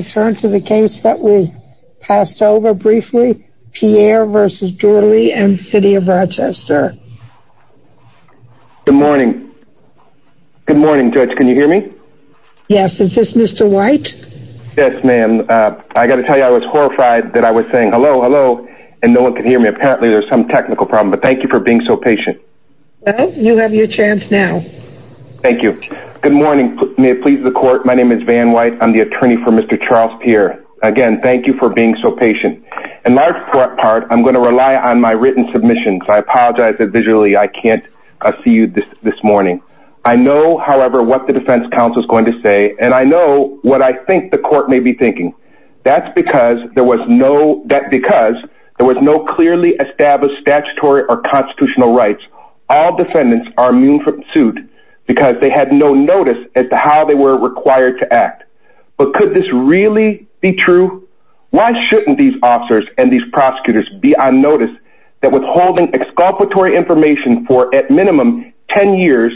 Good morning, Judge. Can you hear me? Yes. Is this Mr. White? Yes, ma'am. I got to tell you I was horrified that I was saying hello, hello, and no one could hear me. Apparently there's some technical problem, but thank you for being so patient. Well, you have your chance now. Thank you. Good morning. May it please the court. My name is Van White. I'm the attorney for Mr. Charles Pierre. Again, thank you for being so patient. In large part, I'm going to rely on my written submissions. I apologize that visually I can't see you this this morning. I know however, what the defense counsel is going to say and I know what I think the court may be thinking. That's because there was no debt because there was no clearly established statutory or constitutional rights. All defendants are immune from suit no notice as to how they were required to act. But could this really be true? Why shouldn't these officers and these prosecutors be on notice that withholding exculpatory information for at minimum 10 years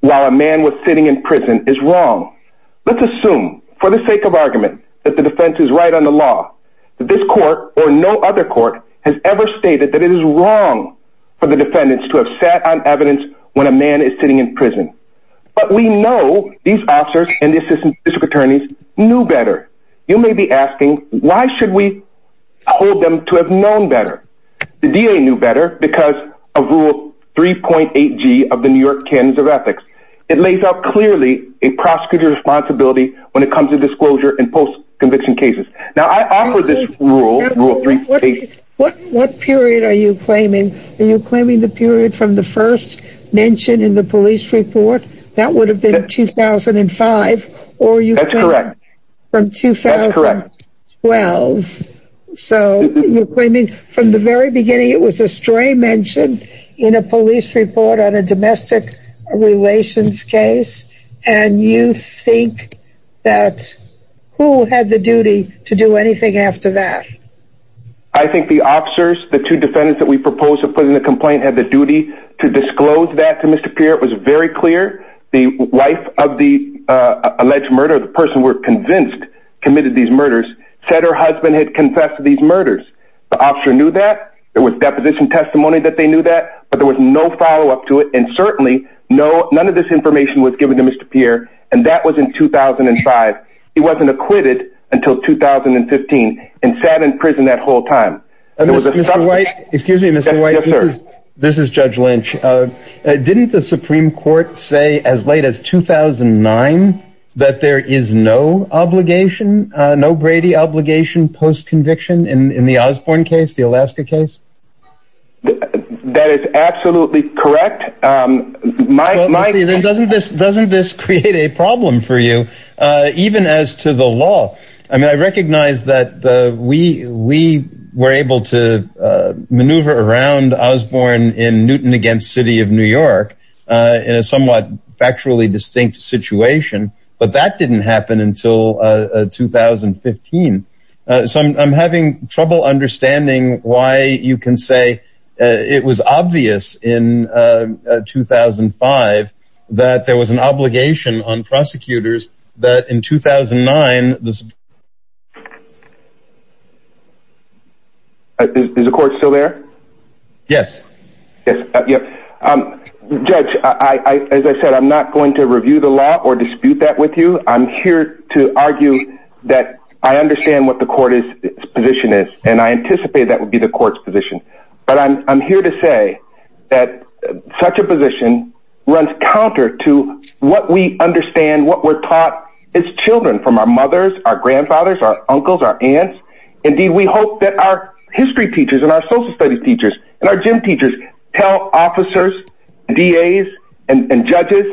while a man was sitting in prison is wrong. Let's assume for the sake of argument that the defense is right on the law. This court or no other court has ever stated that it is wrong for the defendants to have sat on evidence when a man is sitting in prison. But we know these officers and the assistant district attorneys knew better. You may be asking why should we hold them to have known better? The DA knew better because of rule 3.8 g of the New York Cans of ethics. It lays out clearly a prosecutor's responsibility when it comes to disclosure and post conviction cases. Now I offer this rule. What period are you claiming? Are you claiming the period from the first mention in the police report? That would have been 2005. Or you correct from 2012. So we're claiming from the very beginning, it was a stray mentioned in a police report on a domestic relations case. And you think that who had the duty to do anything after that? I think the officers, the two defendants that we propose to put in a complaint had the duty to disclose that to Mr. Pierre. It was very clear. The wife of the alleged murder, the person were convinced committed these murders, said her husband had confessed to these murders. The officer knew that there was deposition testimony that they knew that, but there was no follow up to it. And certainly no, none of this information was given to Mr. Pierre. And that was in 2005. He wasn't acquitted until 2015 and sat in prison that whole time. And this is Mr. White. Excuse me, Mr. White. This is Judge Lynch. Didn't the Supreme Court say as late as 2009 that there is no obligation, no Brady obligation post conviction in the Osborne case, the Alaska case? That is absolutely correct. Mike, doesn't this doesn't this create a problem for you, even as to the law? I mean, I recognize that we we were able to maneuver around Osborne in Newton against city of New York in a somewhat factually distinct situation. But that didn't happen until 2015. So I'm having trouble understanding why you can say it was obvious in 2005 that there was an obligation on prosecutors that in 2009, the Supreme Court. Is the court still there? Yes. Yes. Yeah. Judge, I, as I said, I'm not going to review the law or dispute that with you. I'm here to argue that I understand what the court is position is, and I anticipate that would be the court's position. But I'm here to say that such a position runs counter to what we understand, what we're taught as children from our mothers, our grandfathers, our uncles, our aunts. Indeed, we hope that our history teachers and our social studies teachers and our gym teachers tell officers, DAs and judges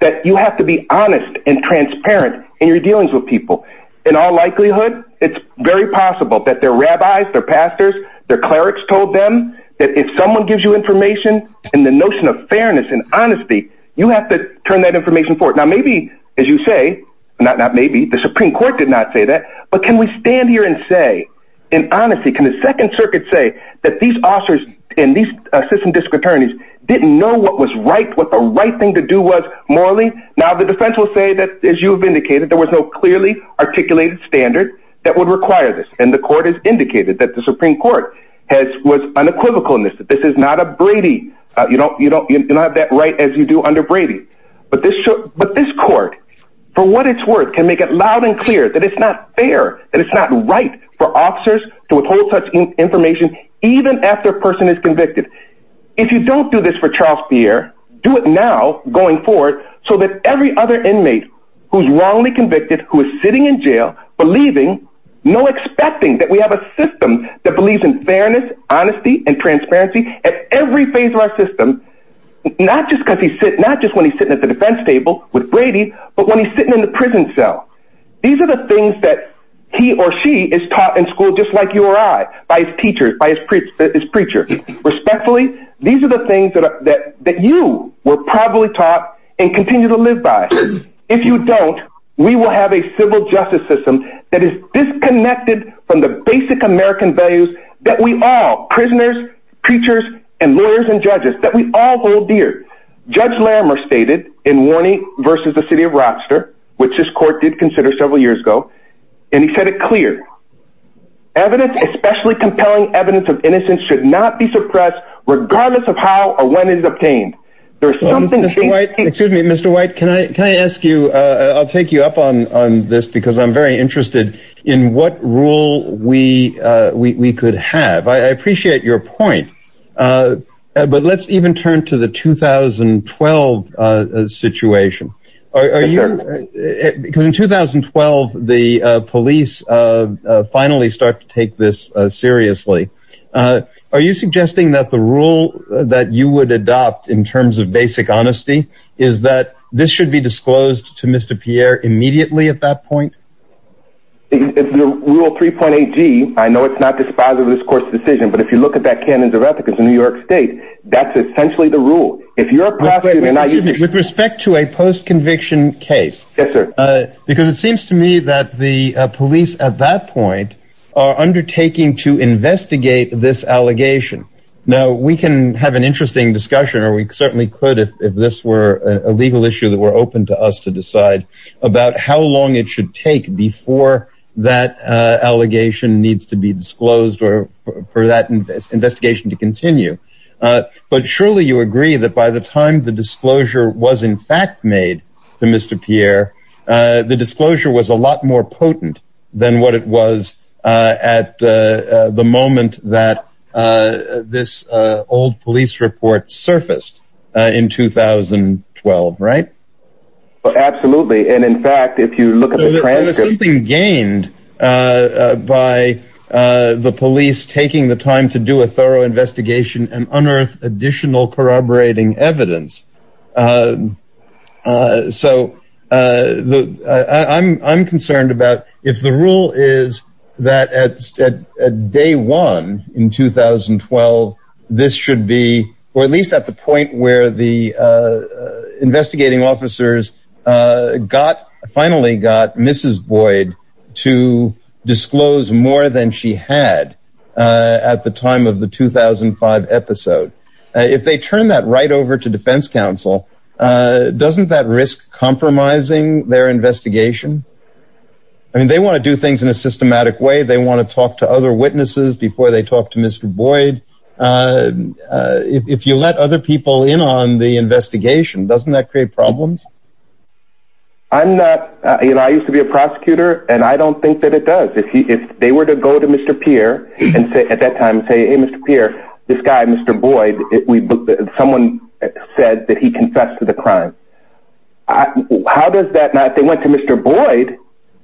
that you have to be honest and transparent in your dealings with people. In all likelihood, it's very possible that their rabbis, their pastors, their clerics told them that if someone gives you information and the notion of fairness and honesty, you have to turn that information for it. Now, maybe, as you say, not maybe the Supreme Court did not say that. But can we stand here and say, in honesty, can the Second Circuit say that these officers in these system district attorneys didn't know what was right, what the right thing to do was morally. Now, the defense will say that, as you've indicated, there was no clearly articulated standard that would require this. And the court has indicated that the Supreme Court has was unequivocal in this. This is not a Brady. You don't you don't you don't have that right as you do under Brady. But this but this court, for what it's worth, can make it loud and clear that it's not fair that it's not right for officers to withhold such information, even after a person is convicted. If you don't do this for Charles Pierre, do it now going forward, so that every other inmate who's wrongly convicted, who is sitting in jail, believing no expecting that we have a system that believes in fairness, honesty, and transparency at every phase of our system. Not just because he said not just when he's sitting at the defense table with Brady, but when he's sitting in the prison cell, these are the things that he or she is taught in school just like you or I, by his teachers by his preachers, preacher, respectfully, these are the things that that you were probably taught and continue to live by. If you don't, we will have a civil justice system that is disconnected from the basic American values that we all prisoners, preachers, and lawyers and judges that we all hold dear. Judge Lamer stated in warning versus the city of Rochester, which this court did consider several years ago. And he said it clear. Evidence, especially compelling evidence of innocence should not be suppressed, regardless of how or when is obtained. There's something that's right. Mr. White, can I can I ask you, I'll take you up on this because I'm very interested in what rule we we could have. I appreciate your point. But let's even turn to the 2012 situation. Are you because in 2012, the police finally start to take this seriously. Are you suggesting that the rule that you would adopt in terms of basic honesty is that this should be disclosed to Mr. Pierre immediately at that point? If the rule 3.8 g I know it's not dispositive of this court's decision. But if you look at that canons of ethics in New York State, that's essentially the rule. If you're a with respect to a post conviction case. Yes, sir. Because it seems to me that the this allegation now we can have an interesting discussion or we certainly could if this were a legal issue that were open to us to decide about how long it should take before that allegation needs to be disclosed or for that investigation to continue. But surely you agree that by the time the disclosure was in fact made to Mr. Pierre, the disclosure was a lot more potent than what it was at the moment that this old police report surfaced in 2012, right? Absolutely. And in fact, if you look at something gained by the police taking the time to do a thorough investigation and unearth additional corroborating evidence. So I'm concerned about if the rule is that at day one in 2012, this should be or at least at the point where the investigating officers got finally got Mrs. Boyd to disclose more than she had at the time of the 2005 episode. If they turn that right over to defense counsel, doesn't that risk compromising their investigation? I mean, they want to do things in a systematic way. They want to talk to other witnesses before they talk to Mr. Boyd. If you let other people in on the investigation, doesn't that create problems? I'm not, you know, I used to be a prosecutor and I don't think that it does. If they were to go to Mr. Pierre and say at that time, say, hey, Mr. Pierre, this guy, confessed to the crime. How does that matter? They went to Mr. Boyd.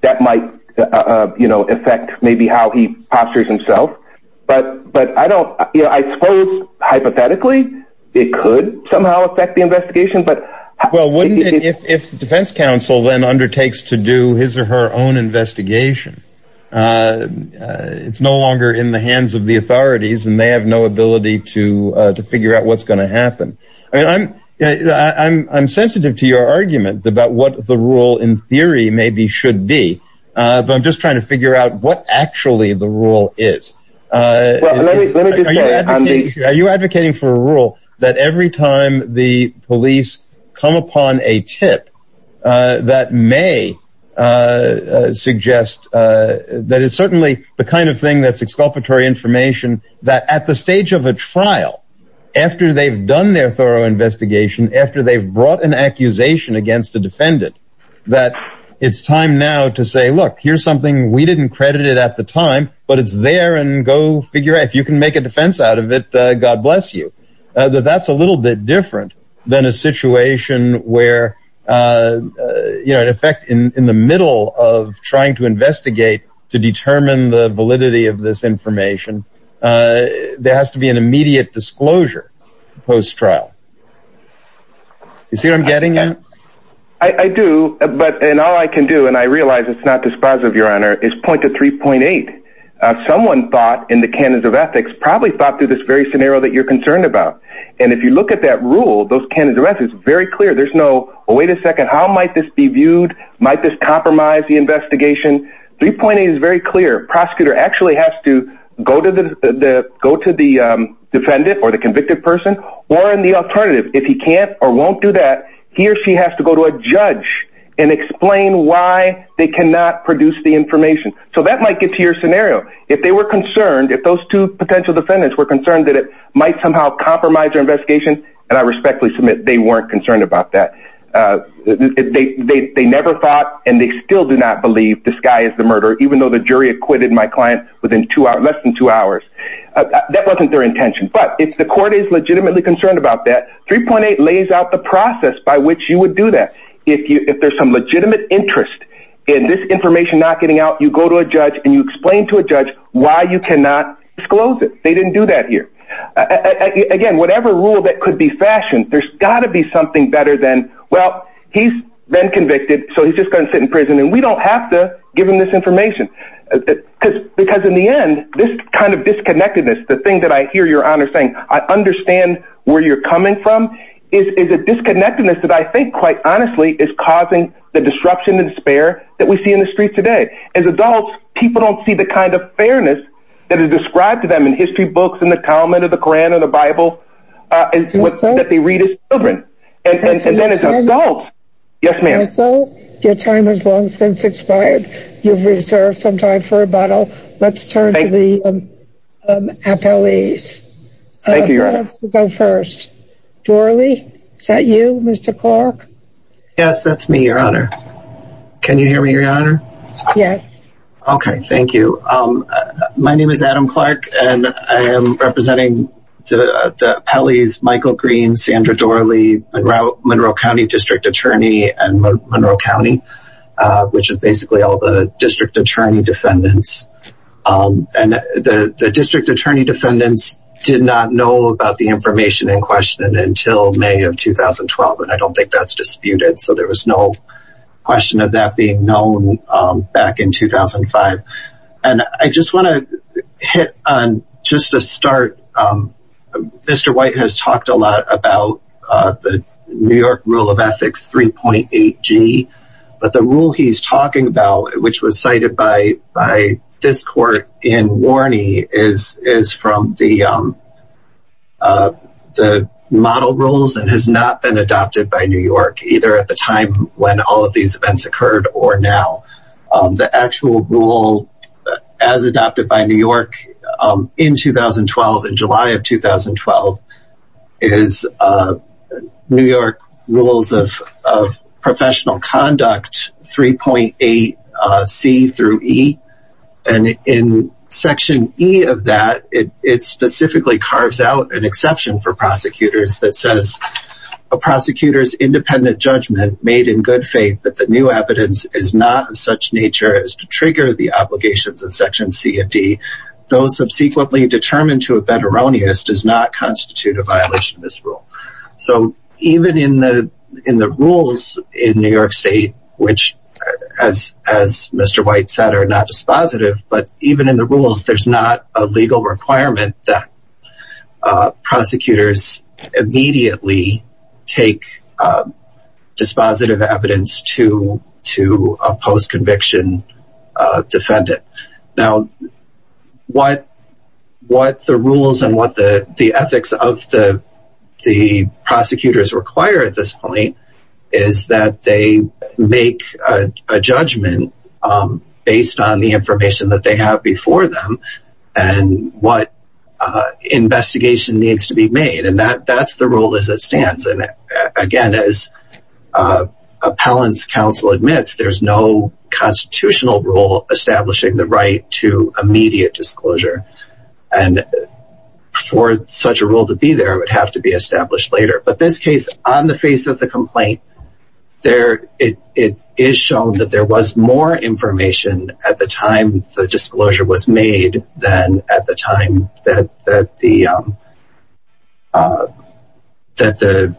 That might affect maybe how he postures himself. But but I don't I suppose hypothetically, it could somehow affect the investigation. But well, wouldn't it if the defense counsel then undertakes to do his or her own investigation? It's no longer in the hands of the authorities and they have no ability to I'm sensitive to your argument about what the rule in theory maybe should be. But I'm just trying to figure out what actually the rule is. Are you advocating for a rule that every time the police come upon a tip that may suggest that is certainly the kind of thing that's exculpatory information that at the stage of a trial, after they've done their thorough investigation, after they've brought an accusation against a defendant, that it's time now to say, look, here's something we didn't credit it at the time, but it's there and go figure if you can make a defense out of it. God bless you. That's a little bit different than a situation where, you know, in effect, in the middle of trying to investigate to determine the validity of this is here. I'm getting it. I do. But and all I can do, and I realize it's not dispositive, Your Honor, is point to 3.8. Someone thought in the canons of ethics probably thought through this very scenario that you're concerned about. And if you look at that rule, those canons of ethics, very clear, there's no wait a second, how might this be viewed? Might this compromise the investigation? 3.8 is very clear prosecutor actually has to go to the go to the defendant or convicted person, or in the alternative, if he can't or won't do that, he or she has to go to a judge and explain why they cannot produce the information. So that might get to your scenario. If they were concerned if those two potential defendants were concerned that it might somehow compromise your investigation, and I respectfully submit they weren't concerned about that. They never thought and they still do not believe this guy is the murderer, even though the jury acquitted my client within two hours, less than two hours. That wasn't their intention. But it's legitimately concerned about that 3.8 lays out the process by which you would do that. If you if there's some legitimate interest in this information, not getting out, you go to a judge and you explain to a judge why you cannot disclose it. They didn't do that here. Again, whatever rule that could be fashioned, there's got to be something better than well, he's been convicted, so he's just going to sit in prison and we don't have to give him this information. Because because in the end, this kind of disconnectedness, the thing that I hear your honor saying, I understand where you're coming from, is a disconnectedness that I think quite honestly, is causing the disruption and despair that we see in the streets today. As adults, people don't see the kind of fairness that is described to them in history books in the comment of the Quran or the Bible that they read as children. Yes, ma'am. So your time is long since expired. You've reserved some time for rebuttal. Let's turn to the appellees. Thank you. Go first. Dorely. Is that you, Mr. Clark? Yes, that's me, your honor. Can you hear me, your honor? Yes. Okay, thank you. My name is Adam Clark, and I am representing the appellees Michael Green, Sandra Dorely, Monroe County District Attorney and Monroe County, which is basically all the district attorney defendants. And the district attorney defendants did not know about the information in question until May of 2012. And I don't think that's disputed. So there was no question of that being known back in 2005. And I just want to hit on just a start. Mr. White has talked a lot about the New York rule of ethics 3.8g. But the rule he's talking about, which was cited by this court in Warney is from the model rules and has not been adopted by New York either at the time when all of these events occurred or now. The actual rule as adopted by New York in 2012, in July of 2012, is New York rules of professional conduct 3.8c through e. And in section e of that, it specifically carves out an exception for prosecutors that says, a prosecutor's independent judgment made in good evidence is not of such nature as to trigger the obligations of section c and d. Those subsequently determined to have been erroneous does not constitute a violation of this rule. So even in the rules in New York state, which as Mr. White said, are not dispositive, but even in the rules, there's not a legal requirement that prosecutors immediately take dispositive evidence to a post-conviction defendant. Now, what the rules and what the ethics of the prosecutors require at this point is that they make a judgment based on the information that they have before them and what investigation needs to be made. And that's the rule as it stands. And again, as there's no constitutional rule establishing the right to immediate disclosure and for such a rule to be there, it would have to be established later. But this case on the face of the complaint, there it is shown that there was more information at the time the disclosure was made than at the time that the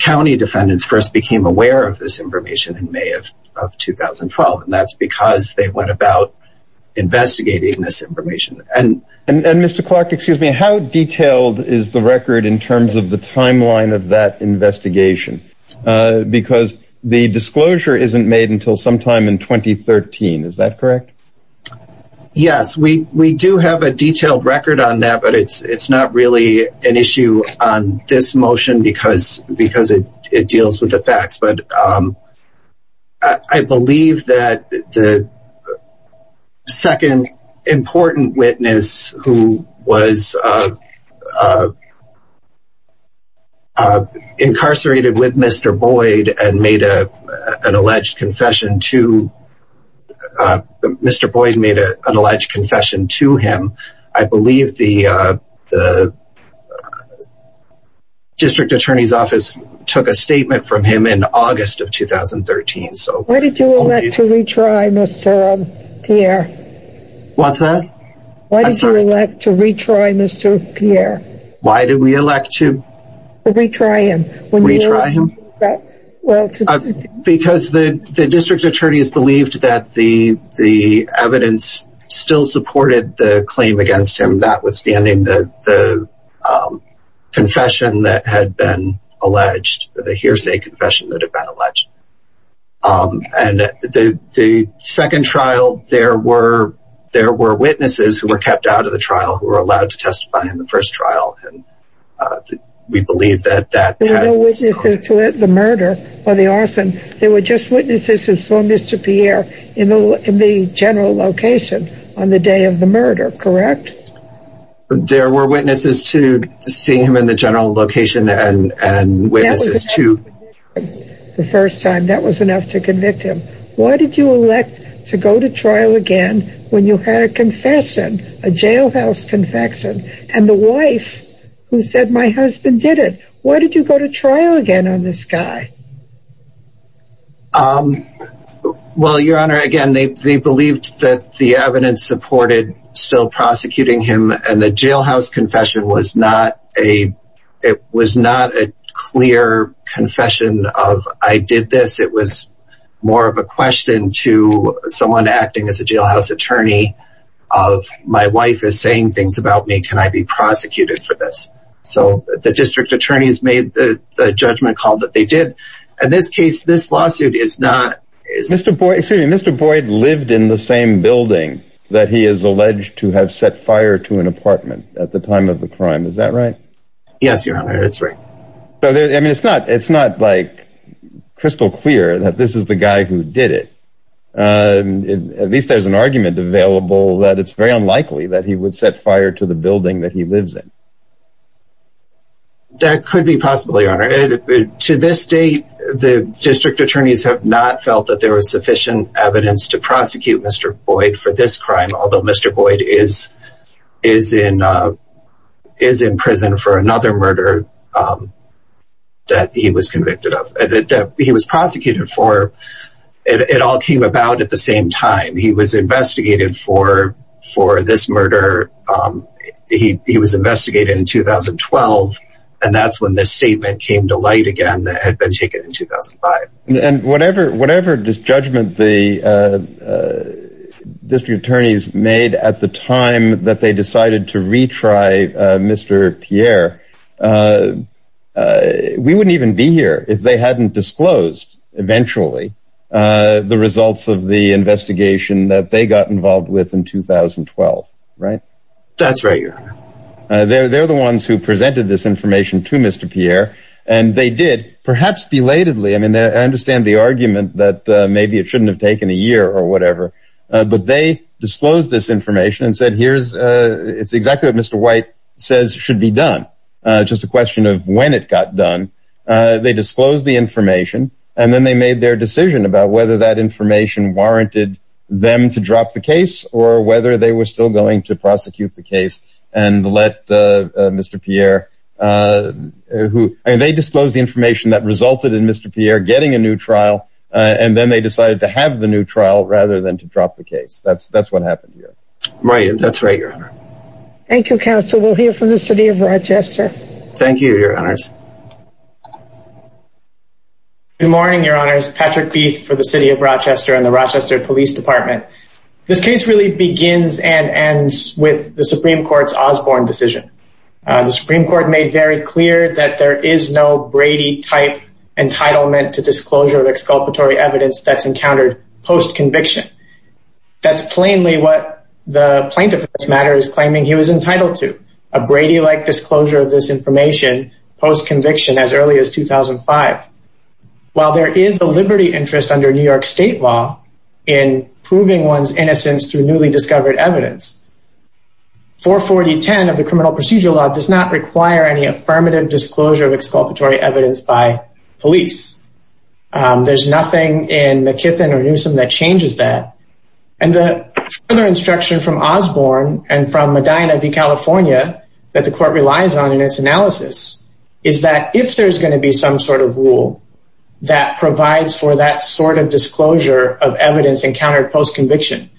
county defendants first became aware of this information in May of 2012. And that's because they went about investigating this information. And Mr. Clark, excuse me, how detailed is the record in terms of the timeline of that investigation? Because the disclosure isn't made until sometime in 2013. Is that correct? Yes, we do have a detailed record on that, but it's not really an issue on this motion because it deals with the facts. But I believe that the second important witness who was an alleged confession to him, I believe the district attorney's office took a statement from him in August of 2013. Why did you elect to retry Mr. Pierre? What's that? Why did you elect to retry Mr. Pierre? Why did we elect to? Retry him. Retry him? Because the district attorney's believed that the evidence still supported the claim against him, notwithstanding the confession that had been alleged, the hearsay confession that had been alleged. And the second trial, there were witnesses who were kept out of the trial who were allowed to testify in the first trial. And we believe that that... There were no witnesses to the murder or the arson. There were just witnesses who saw Mr. Pierre in the general location on the day of the murder, correct? There were witnesses to seeing him in the general location and witnesses to... The first time that was enough to convict him. Why did you elect to go to trial again when you had a confession, a jailhouse confession, and the wife who said, my husband did it? Why did you go to trial again on this guy? Well, Your Honor, again, they believed that the evidence supported still prosecuting him. And the jailhouse confession was not a... It was not a clear confession of, I did this. It was more of a question to someone acting as a jailhouse attorney of, my wife is saying things about me. Can I be prosecuted for this? So the district attorneys made the judgment call that they did. In this case, this lawsuit is not... Excuse me, Mr. Boyd lived in the same building that he is alleged to have set fire to an apartment at the time of the crime. Is that right? Yes, Your Honor, it's right. I mean, it's not, it's not like crystal clear that this is the guy who did it. At least there's an argument available that it's very unlikely that he would set fire to the building that he lives in. That could be possible, Your Honor. To this date, the district attorneys have not felt that there was sufficient evidence to prosecute Mr. Boyd is in prison for another murder that he was convicted of, that he was prosecuted for. It all came about at the same time. He was investigated for this murder. He was investigated in 2012. And that's when this statement came to light again that had been taken in 2005. And whatever, whatever this judgment, the district attorneys made at the time that they decided to retry Mr. Pierre, we wouldn't even be here if they hadn't disclosed eventually the results of the investigation that they got involved with in 2012. Right? That's right, Your Honor. They're the ones who presented this information to Mr. Pierre, and they did perhaps belatedly. And I understand the argument that maybe it shouldn't have taken a year or whatever, but they disclosed this information and said, here's it's exactly what Mr. White says should be done. Just a question of when it got done. They disclosed the information, and then they made their decision about whether that information warranted them to drop the case or whether they were still going to prosecute the case and let Mr. Pierre who they disclosed the information that resulted in Mr. Pierre getting a new trial. And then they decided to have the new trial rather than to drop the case. That's that's what happened here. Right. That's right, Your Honor. Thank you, counsel. We'll hear from the city of Rochester. Thank you, Your Honors. Good morning, Your Honors. Patrick Beith for the city of Rochester and the Rochester Police Department. This case really begins and ends with the Supreme Court's Osborne decision. The Supreme Court made very clear that there is no Brady type entitlement to disclosure of exculpatory evidence that's encountered post conviction. That's plainly what the plaintiff's matter is claiming he was entitled to a Brady like disclosure of this information post conviction as early as 2005. While there is a liberty interest under New York State law in proving one's innocence through newly discovered evidence. 44010 of the criminal procedure law does not require any affirmative disclosure of exculpatory evidence by police. There's nothing in McKithen or Newsom that changes that. And the other instruction from Osborne and from Medina v. California that the court relies on in its analysis is that if there's going to be some sort of rule that provides for sort of disclosure of evidence encountered post conviction,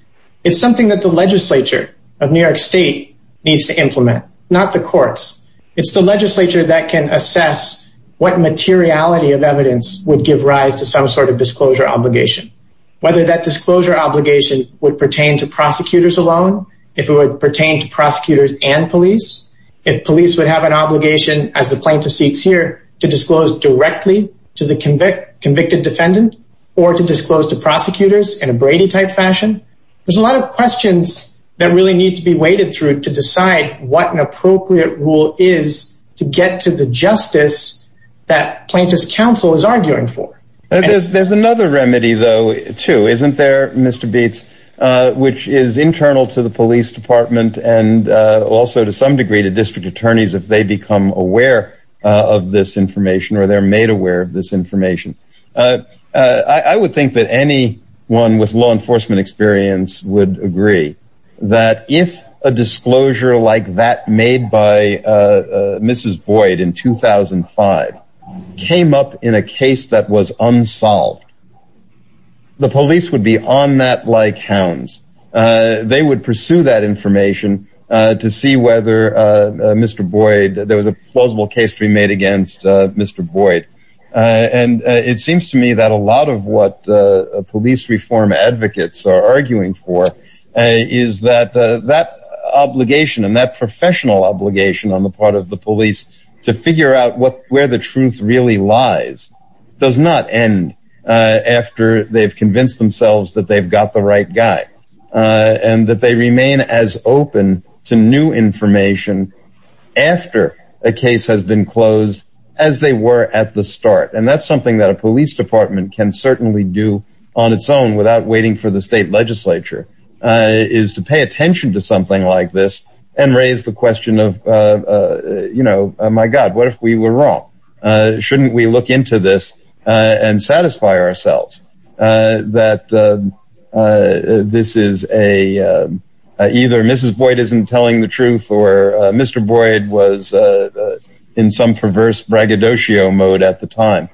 it's something that the legislature of New York State needs to implement, not the courts. It's the legislature that can assess what materiality of evidence would give rise to some sort of disclosure obligation. Whether that disclosure obligation would pertain to prosecutors alone, if it would pertain to prosecutors and police, if police would have an obligation as the plaintiff seeks here to disclose directly to the convicted defendant, or to disclose to prosecutors in a Brady type fashion, there's a lot of questions that really need to be waded through to decide what an appropriate rule is to get to the justice that plaintiff's counsel is arguing for. There's another remedy, though, too, isn't there, Mr. Beets, which is internal to the police department and also to some degree to district attorneys if they become aware of this information or they're made aware of this information. I would think that anyone with law enforcement experience would agree that if a disclosure like that made by Mrs. Boyd in 2005 came up in a case that was unsolved, the police would be on that like hounds. They would pursue that information to see whether Mr. Boyd, there was a plausible case to be made against Mr. Boyd. And it seems to me that a lot of what police reform advocates are arguing for is that that obligation and that professional obligation on the part of the police to figure out where the truth really lies does not end after they've convinced themselves that they've got the right guy and that they remain as open to new information after a case has been closed as they were at the start. And that's something that a police department can certainly do on its own without waiting for the state legislature is to pay attention to something like this and raise the question of, you know, my God, what if we were wrong? Shouldn't we look into this and satisfy ourselves that this is a either Mrs. Boyd isn't telling the truth or Mr. Boyd was in some perverse braggadocio mode at the time.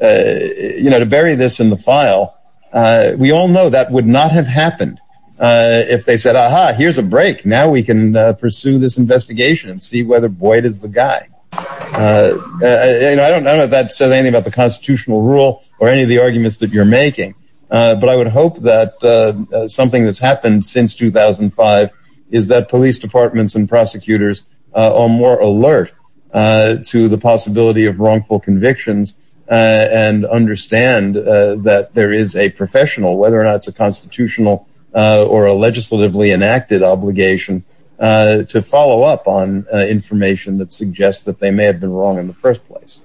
You know, to bury this in the file, we all know that would not have happened if they said, aha, here's a break. Now we can pursue this investigation and see whether Boyd is the guy. I don't know if that says anything about the constitutional rule or any of the is that police departments and prosecutors are more alert to the possibility of wrongful convictions and understand that there is a professional, whether or not it's a constitutional or a legislatively enacted obligation to follow up on information that suggests that they may have been wrong in the first place.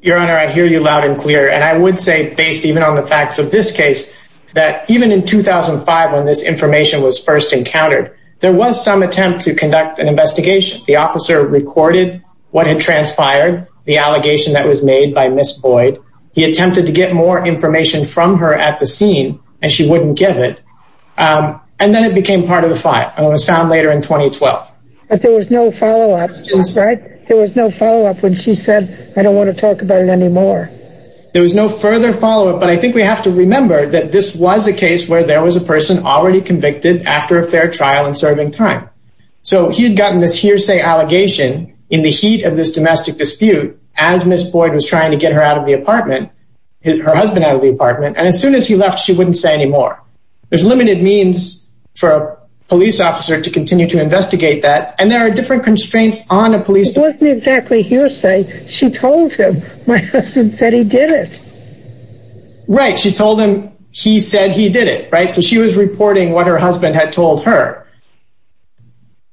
Your Honor, I hear you loud and clear. And I would say, based even on the facts of this case, that even in 2005, when this information was first encountered, there was some attempt to conduct an investigation. The officer recorded what had transpired, the allegation that was made by Miss Boyd. He attempted to get more information from her at the scene, and she wouldn't give it. And then it became part of the file and was found later in 2012. But there was no follow up, right? There was no follow up when she said, I don't want to talk about it anymore. There was no further follow up. But I think we have to remember that this was a case where there was a person already convicted after a fair trial and serving time. So he had gotten this hearsay allegation in the heat of this domestic dispute as Miss Boyd was trying to get her out of the apartment, her husband out of the apartment. And as soon as he left, she wouldn't say anymore. There's limited means for a police officer to continue to investigate that. And there are different constraints on a police... It wasn't exactly hearsay. She told him, my husband said he did it. Right, she told him, he said he did it, right? So she was reporting what her husband had told her.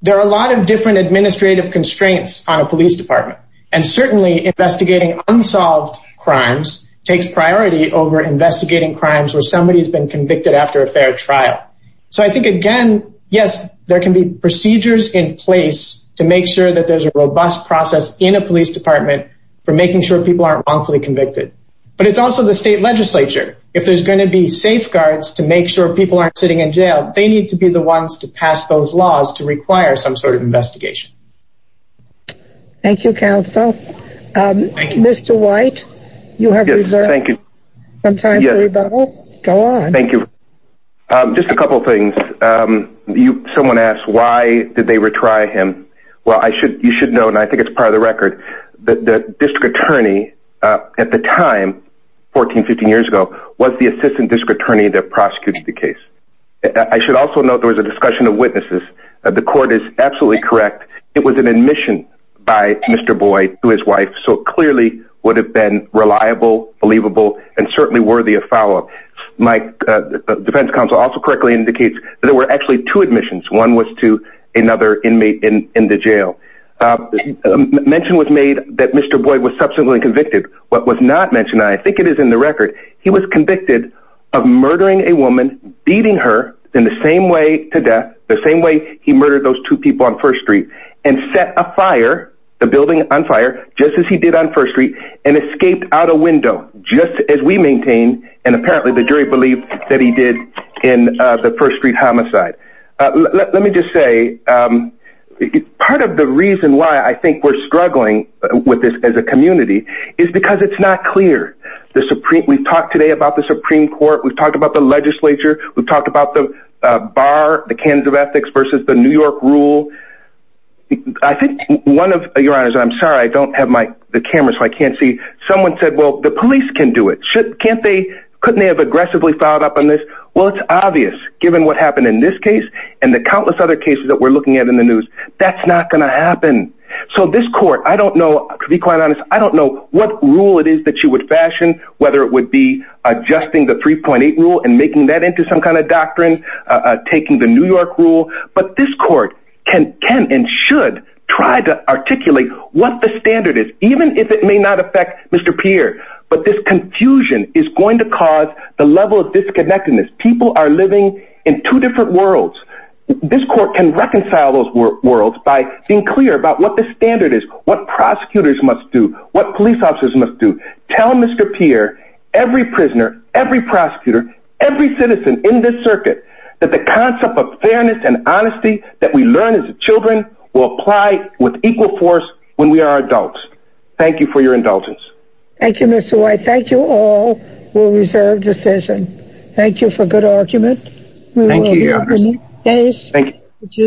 There are a lot of different administrative constraints on a police department. And certainly investigating unsolved crimes takes priority over investigating crimes where somebody has been convicted after a fair trial. So I think again, yes, there can be procedures in place to make sure that there's a robust process in a police department for making sure people aren't wrongfully convicted. But it's also the state legislature. If there's going to be safeguards to make sure people aren't sitting in jail, they need to be the ones to pass those laws to require some sort of investigation. Thank you, counsel. Mr. White, you have some time for rebuttal. Go on. Thank you. Just a couple things. Someone asked why did they retry him? Well, you should know, and I think it's part of the record, that the district attorney at the time, 14, 15 years ago, was the assistant district attorney that prosecuted the case. I should also note there was a discussion of witnesses. The court is absolutely correct. It was an admission by Mr. Boyd to his wife. So clearly would have been reliable, believable, and certainly worthy of defense counsel also correctly indicates that there were actually two admissions. One was to another inmate in the jail. Mention was made that Mr. Boyd was subsequently convicted. What was not mentioned, I think it is in the record, he was convicted of murdering a woman, beating her in the same way to death, the same way he murdered those two people on First Street, and set a fire, the building on fire, just as he did on First Street, and escaped out a window, just as we maintain, and apparently the jury believed that he did in the First Street homicide. Let me just say, part of the reason why I think we're struggling with this as a community is because it's not clear. The Supreme Court, we've talked today about the Supreme Court, we've talked about the legislature, we've talked about the bar, the cans of ethics versus the New York rule. I think one of your honors, I'm sorry, I don't have my the camera so I can't see. Someone said, well, the police can do it. Can't they? Couldn't they have aggressively filed up on this? Well, it's obvious, given what happened in this case, and the countless other cases that we're looking at in the news, that's not going to happen. So this court, I don't know, to be quite honest, I don't know what rule it is that you would fashion, whether it would be adjusting the 3.8 rule and making that into some kind of doctrine, taking the New York rule, but this court can and should try to articulate what the standard is, even if it may not affect Mr. Pierre, but this confusion is going to cause the level of disconnectedness people are living in two different worlds. This court can reconcile those worlds by being clear about what the standard is, what prosecutors must do what police officers must do. Tell Mr. Pierre, every prisoner, every prosecutor, every citizen in this circuit, that the concept of fairness and honesty that we learn as children will apply with equal force when we are adults. Thank you for your indulgence. Thank you, Mr. White. Thank you all. We'll reserve decision. Thank you for good argument. Thank you.